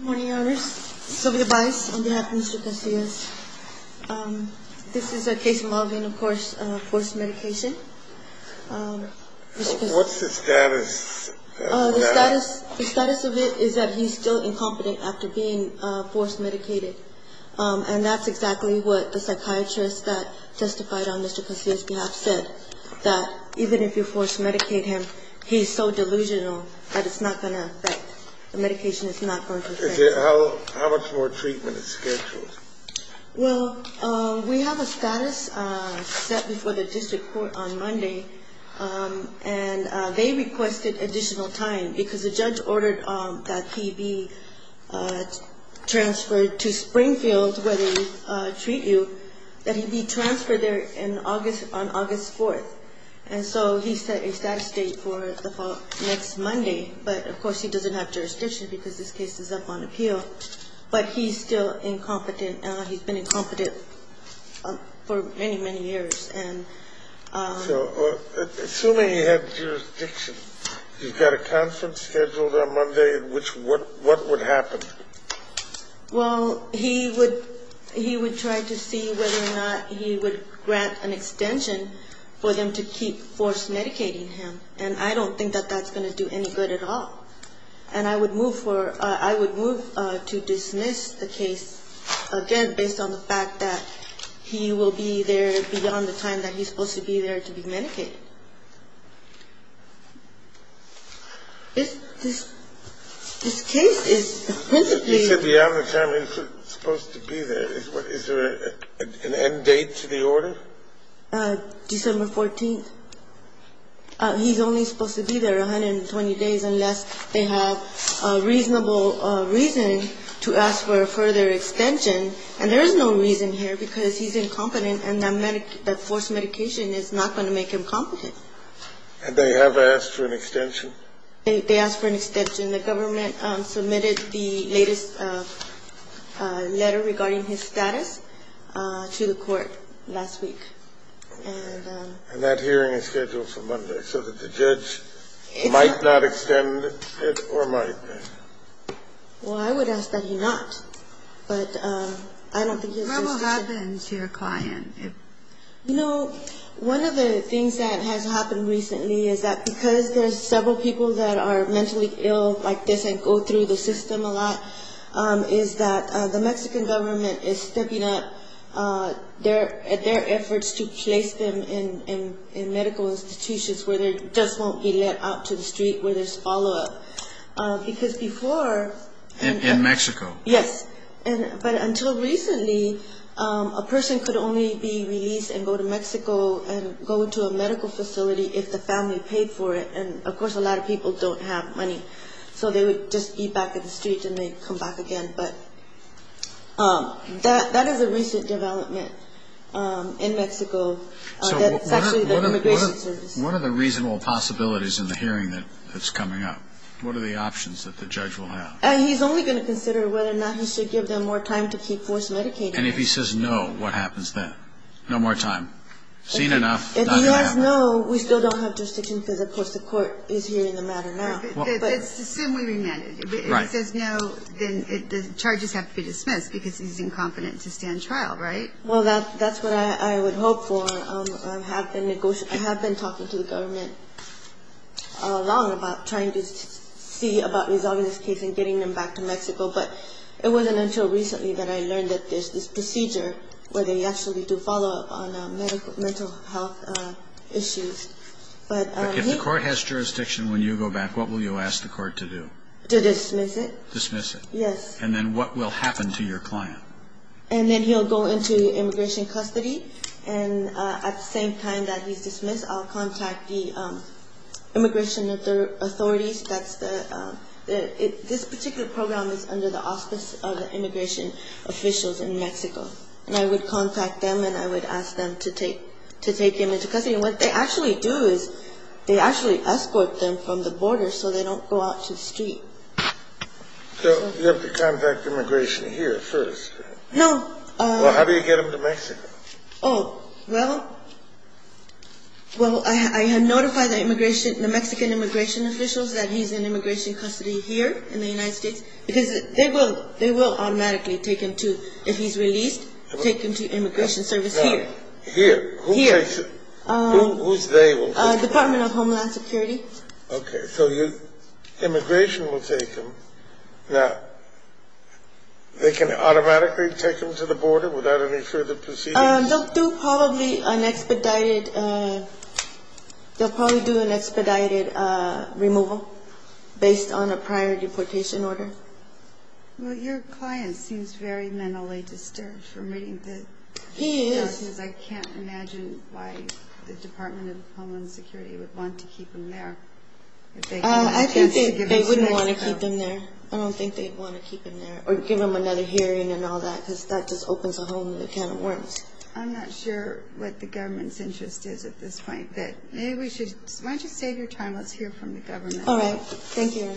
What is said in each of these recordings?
Good morning, Your Honors. Sylvia Baez on behalf of Mr. Casillas. This is a case involving, of course, forced medication. What's the status of that? The status of it is that he's still incompetent after being forced medicated. And that's exactly what the psychiatrist that testified on Mr. Casillas' behalf said, that even if you force medicate him, he's so delusional that it's not going to affect. The medication is not going to affect him. How much more treatment is scheduled? Well, we have a status set before the district court on Monday, and they requested additional time because the judge ordered that he be transferred to Springfield where they treat you, that he be transferred there on August 4th. And so he set a status date for the next Monday. But, of course, he doesn't have jurisdiction because this case is up on appeal. But he's still incompetent. He's been incompetent for many, many years. So assuming he had jurisdiction, you've got a conference scheduled on Monday in which what would happen? Well, he would try to see whether or not he would grant an extension for them to keep forced medicating him. And I don't think that that's going to do any good at all. And I would move to dismiss the case, again, based on the fact that he will be there beyond the time that he's supposed to be there to be medicated. This case is supposedly beyond the time he's supposed to be there. Is there an end date to the order? December 14th. He's only supposed to be there 120 days unless they have a reasonable reason to ask for a further extension. And there is no reason here because he's incompetent, and that forced medication is not going to make him competent. And they have asked for an extension? They asked for an extension. The government submitted the latest letter regarding his status to the court last week. And that hearing is scheduled for Monday, so that the judge might not extend it or might. Well, I would ask that he not. But I don't think it's necessary. What will happen to your client? You know, one of the things that has happened recently is that because there's several people that are mentally ill like this and go through the system a lot, is that the Mexican government is stepping up their efforts to place them in medical institutions where they just won't be let out to the street, where there's follow-up. Because before... In Mexico. Yes. But until recently, a person could only be released and go to Mexico and go to a medical facility if the family paid for it. And, of course, a lot of people don't have money. So they would just be back in the street and they'd come back again. But that is a recent development in Mexico. That's actually the immigration service. So what are the reasonable possibilities in the hearing that's coming up? What are the options that the judge will have? He's only going to consider whether or not he should give them more time to keep forced medication. And if he says no, what happens then? No more time? Seen enough? If he says no, we still don't have jurisdiction because, of course, the court is hearing the matter now. Let's assume we remanded him. If he says no, then the charges have to be dismissed because he's incompetent to stand trial, right? Well, that's what I would hope for. I have been talking to the government a lot about trying to see about resolving this case and getting them back to Mexico, but it wasn't until recently that I learned that there's this procedure where they actually do follow up on mental health issues. But if the court has jurisdiction when you go back, what will you ask the court to do? To dismiss it. Dismiss it. Yes. And then what will happen to your client? And then he'll go into immigration custody, and at the same time that he's dismissed, I'll contact the immigration authorities. This particular program is under the auspice of the immigration officials in Mexico. And I would contact them, and I would ask them to take him into custody. And what they actually do is they actually escort them from the border so they don't go out to the street. So you have to contact immigration here first. No. Well, how do you get them to Mexico? Oh, well, I notify the Mexican immigration officials that he's in immigration custody here in the United States because they will automatically take him to, if he's released, take him to immigration service here. Here? Here. Who's they? Department of Homeland Security. Okay. So immigration will take him. Now, they can automatically take him to the border without any further proceedings? They'll do probably an expedited removal based on a prior deportation order. Well, your client seems very mentally disturbed from reading the notices. He is. I can't imagine why the Department of Homeland Security would want to keep him there. I think they wouldn't want to keep him there. I don't think they'd want to keep him there or give him another hearing and all that because that just opens a whole new can of worms. I'm not sure what the government's interest is at this point, but maybe we should – why don't you save your time? Let's hear from the government. All right. Thank you.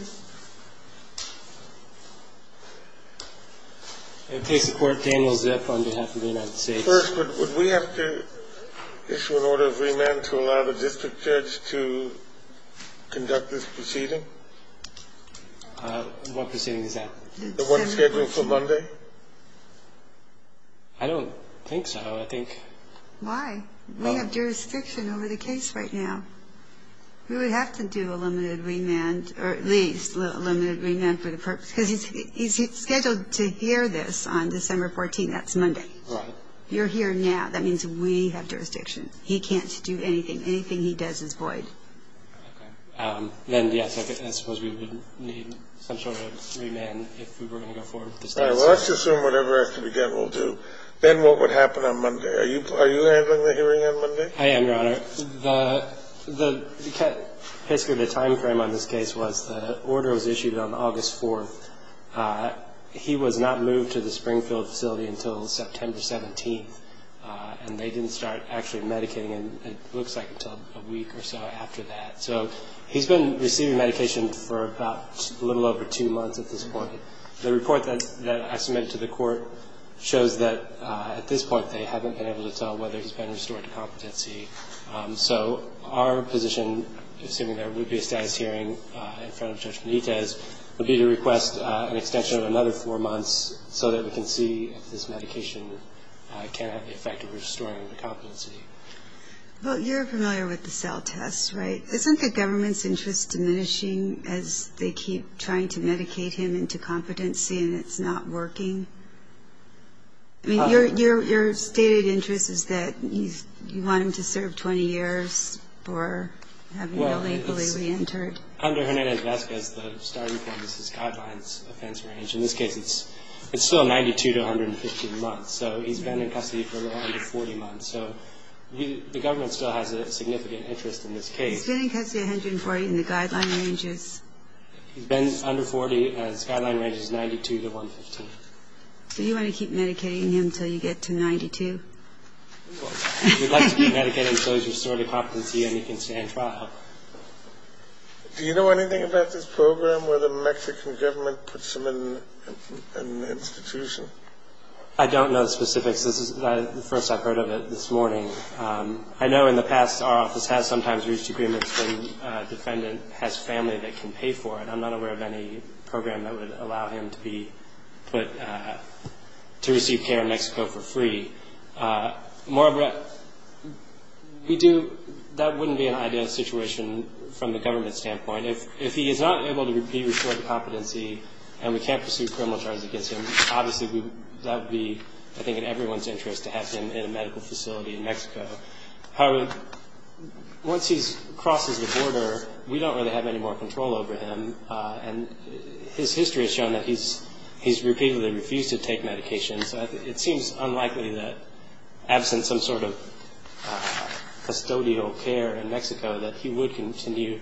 And please support Daniel Zip on behalf of the United States. First, would we have to issue an order of remand to allow the district judge to conduct this proceeding? What proceeding is that? The one scheduled for Monday? I don't think so. I think – Why? We have jurisdiction over the case right now. We would have to do a limited remand or at least a limited remand for the purpose – because he's scheduled to hear this on December 14th. That's Monday. Right. You're here now. That means we have jurisdiction. He can't do anything. Anything he does is void. Okay. Then, yes, I suppose we would need some sort of remand if we were going to go forward with this case. All right. Well, let's assume whatever has to be done, we'll do. Then what would happen on Monday? Are you handling the hearing on Monday? I am, Your Honor. Basically, the timeframe on this case was the order was issued on August 4th. He was not moved to the Springfield facility until September 17th, and they didn't start actually medicating, it looks like, until a week or so after that. So he's been receiving medication for about a little over two months at this point. The report that I submitted to the Court shows that at this point they haven't been able to tell whether he's been restored to competency. So our position, assuming there would be a status hearing in front of Judge Benitez, would be to request an extension of another four months so that we can see if this medication can have the effect of restoring him to competency. Well, you're familiar with the cell test, right? Isn't the government's interest diminishing as they keep trying to medicate him into competency and it's not working? I mean, your stated interest is that you want him to serve 20 years for having illegally reentered. Under Hernandez-Vasquez, the starting point is his guidelines offense range. In this case, it's still 92 to 115 months. So he's been in custody for a little under 40 months. So the government still has a significant interest in this case. He's been in custody 140 and the guideline range is? He's been under 40 and his guideline range is 92 to 115. So you want to keep medicating him until you get to 92? We'd like to keep medicating him until he's restored to competency and he can stand trial. Do you know anything about this program where the Mexican government puts him in an institution? I don't know the specifics. This is the first I've heard of it this morning. I know in the past our office has sometimes reached agreements when a defendant has family that can pay for it. I'm not aware of any program that would allow him to be put to receive care in Mexico for free. Moreover, that wouldn't be an ideal situation from the government's standpoint. If he is not able to be restored to competency and we can't pursue criminal charges against him, obviously that would be, I think, in everyone's interest to have him in a medical facility in Mexico. However, once he crosses the border, we don't really have any more control over him. And his history has shown that he's repeatedly refused to take medication. So it seems unlikely that absent some sort of custodial care in Mexico that he would continue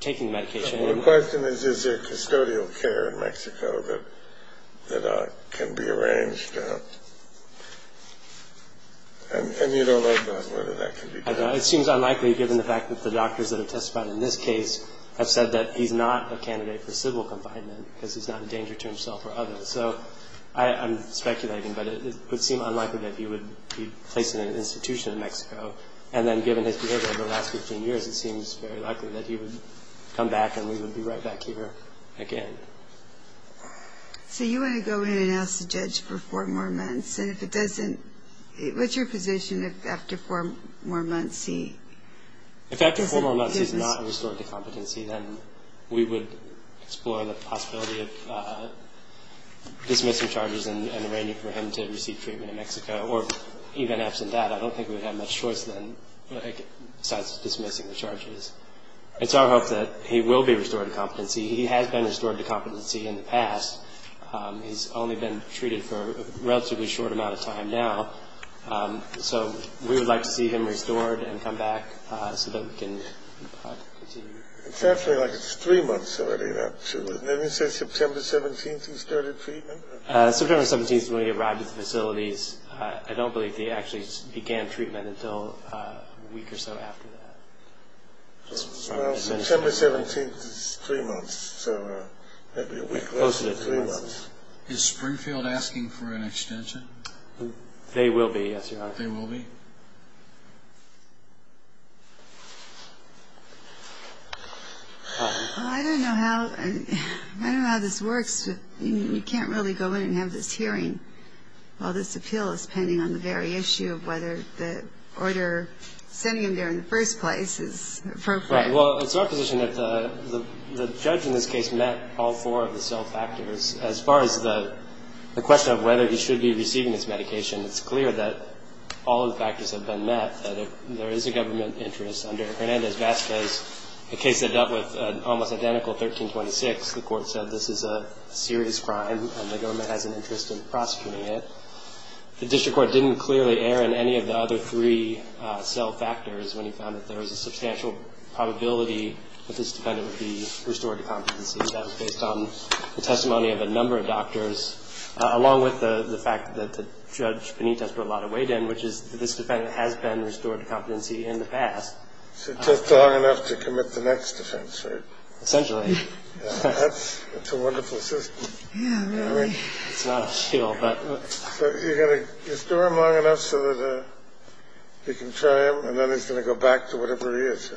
taking medication. The question is, is there custodial care in Mexico that can be arranged? And you don't know whether that can be done. It seems unlikely given the fact that the doctors that have testified in this case have said that he's not a candidate for civil confinement because he's not a danger to himself or others. So I'm speculating, but it would seem unlikely that he would be placed in an institution in Mexico. And then given his behavior over the last 15 years, it seems very likely that he would come back and we would be right back here again. So you want to go in and ask the judge for four more months, and if it doesn't – what's your position if after four more months he doesn't give us – dismissing charges and arranging for him to receive treatment in Mexico? Or even absent that, I don't think we would have much choice then besides dismissing the charges. It's our hope that he will be restored to competency. He has been restored to competency in the past. He's only been treated for a relatively short amount of time now. So we would like to see him restored and come back so that we can continue. It's actually like it's three months already, not two. Didn't he say September 17th he started treatment? September 17th is when he arrived at the facilities. I don't believe they actually began treatment until a week or so after that. Well, September 17th is three months, so that would be a week closer to three months. Is Springfield asking for an extension? They will be, yes, Your Honor. They will be? Well, I don't know how this works. You can't really go in and have this hearing while this appeal is pending on the very issue of whether the order sending him there in the first place is appropriate. Right. Well, it's our position that the judge in this case met all four of the cell factors. As far as the question of whether he should be receiving his medication, it's clear that all of the factors have been met, that there is a government interest. Under Hernandez-Vazquez, a case that dealt with an almost identical 1326, the court said this is a serious crime and the government has an interest in prosecuting it. The district court didn't clearly air in any of the other three cell factors when he found that there was a substantial probability that this defendant would be restored to competency. That was based on the testimony of a number of doctors, along with the fact that Judge Benitez put a lot of weight in, which is that this defendant has been restored to competency in the past. So it takes long enough to commit the next offense, right? Essentially. That's a wonderful system. Yeah, really. It's not a shield, but... So you're going to restore him long enough so that you can try him and then he's going to go back to whatever he is?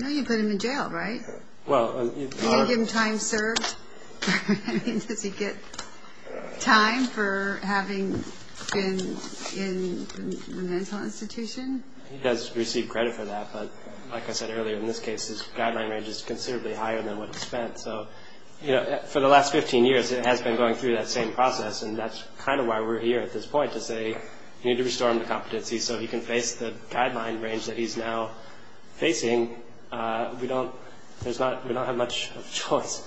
No, you put him in jail, right? Well... You didn't give him time served? Does he get time for having been in a mental institution? He does receive credit for that, but like I said earlier, in this case his guideline range is considerably higher than what he spent. So for the last 15 years it has been going through that same process, and that's kind of why we're here at this point, to say you need to restore him to competency so he can face the guideline range that he's now facing. We don't have much choice.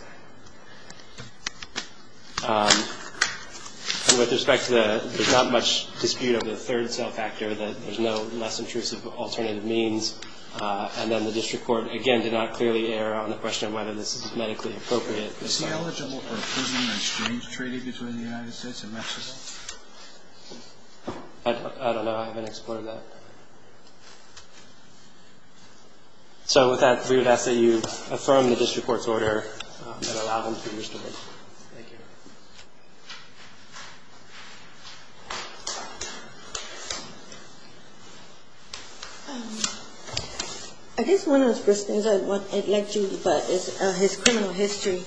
With respect to the... There's not much dispute over the third cell factor, that there's no less intrusive alternative means. And then the district court, again, did not clearly err on the question of whether this is medically appropriate. Is he eligible for a prison exchange treaty between the United States and Mexico? I don't know. I haven't explored that. So with that, we would ask that you affirm the district court's order that allowed him to be restored. Thank you. I guess one of the first things I'd like to invite is his criminal history.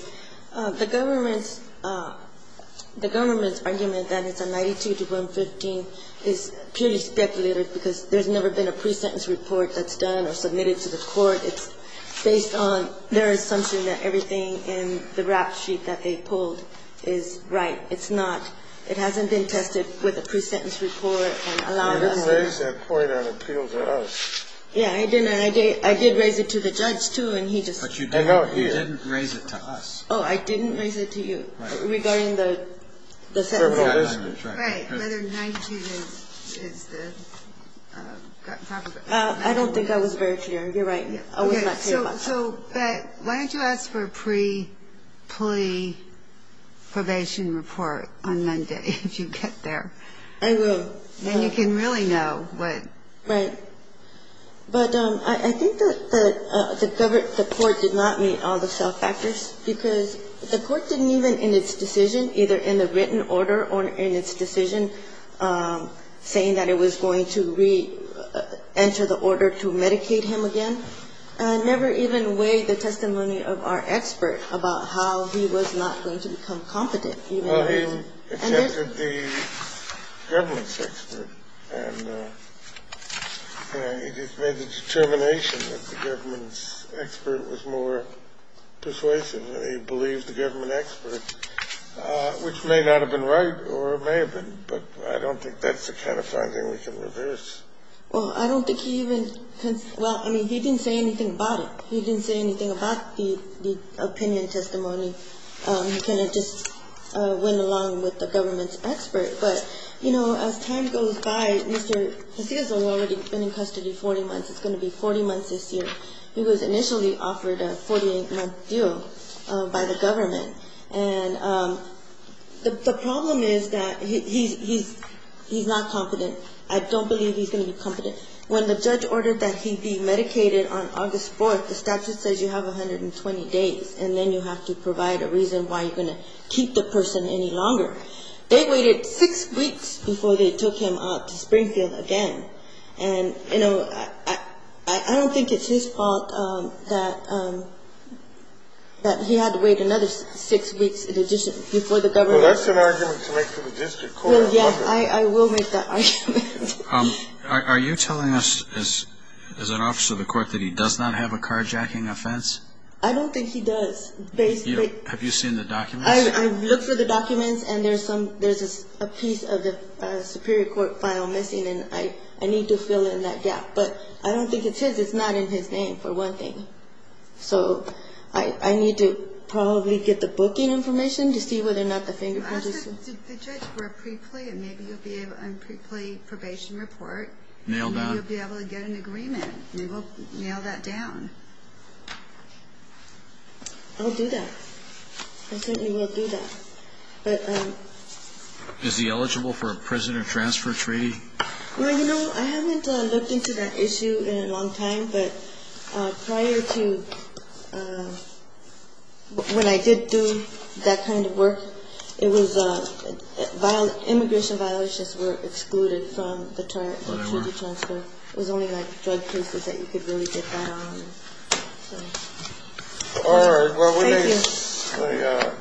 The government's argument that it's a 92 to 115 is purely speculative because there's never been a pre-sentence report that's done or submitted to the court. It's based on their assumption that everything in the rap sheet that they pulled is right. It's not. It hasn't been tested with a pre-sentence report and allowed us to... They didn't raise that point on appeal to us. Yeah, I didn't. I did raise it to the judge, too, and he just... But you didn't raise it to us. Oh, I didn't raise it to you regarding the sentencing. Right. Whether 92 is the proper... I don't think I was very clear. You're right. I was not clear about that. So why don't you ask for a pre-plea probation report on Monday if you get there? I will. Then you can really know what... Right. But I think that the court did not meet all the self-factors because the court didn't even in its decision, either in the written order or in its decision, saying that it was going to re-enter the order to medicate him again, never even weighed the testimony of our expert about how he was not going to become competent. Well, he accepted the government's expert, and he just made the determination that the government's expert was more persuasive. He believed the government expert, which may not have been right or may have been, but I don't think that's the kind of finding we can reverse. Well, I don't think he even... Well, I mean, he didn't say anything about it. He didn't say anything about the opinion testimony. He kind of just went along with the government's expert. But, you know, as time goes by, Mr. Casillas has already been in custody 40 months. It's going to be 40 months this year. He was initially offered a 48-month deal by the government. And the problem is that he's not competent. I don't believe he's going to be competent. When the judge ordered that he be medicated on August 4th, the statute says you have 120 days, and then you have to provide a reason why you're going to keep the person any longer. They waited six weeks before they took him out to Springfield again. And, you know, I don't think it's his fault that he had to wait another six weeks before the government... Well, that's an argument to make to the district court. Well, yeah, I will make that argument. Are you telling us, as an officer of the court, that he does not have a carjacking offense? I don't think he does. Have you seen the documents? I've looked through the documents, and there's a piece of the superior court file missing, and I need to fill in that gap. But I don't think it's his. It's not in his name, for one thing. So I need to probably get the booking information to see whether or not the fingerprints are... Ask the judge for a preplay, and maybe you'll be able to get a preplay probation report. Nail that. Maybe you'll be able to get an agreement. We will nail that down. I'll do that. I certainly will do that. Is he eligible for a prison or transfer treaty? Well, you know, I haven't looked into that issue in a long time, but prior to when I did do that kind of work, immigration violations were excluded from the treaty transfer. It was only, like, drug cases that you could really get that on. All right. Well, we may get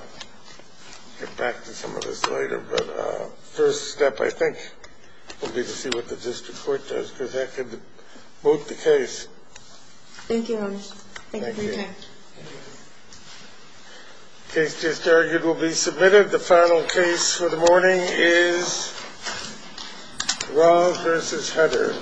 back to some of this later, but the first step, I think, will be to see what the district court does, because that could vote the case. Thank you, Holmes. Thank you for your time. Thank you. The case just argued will be submitted. The final case for the morning is Raul v. Hutter.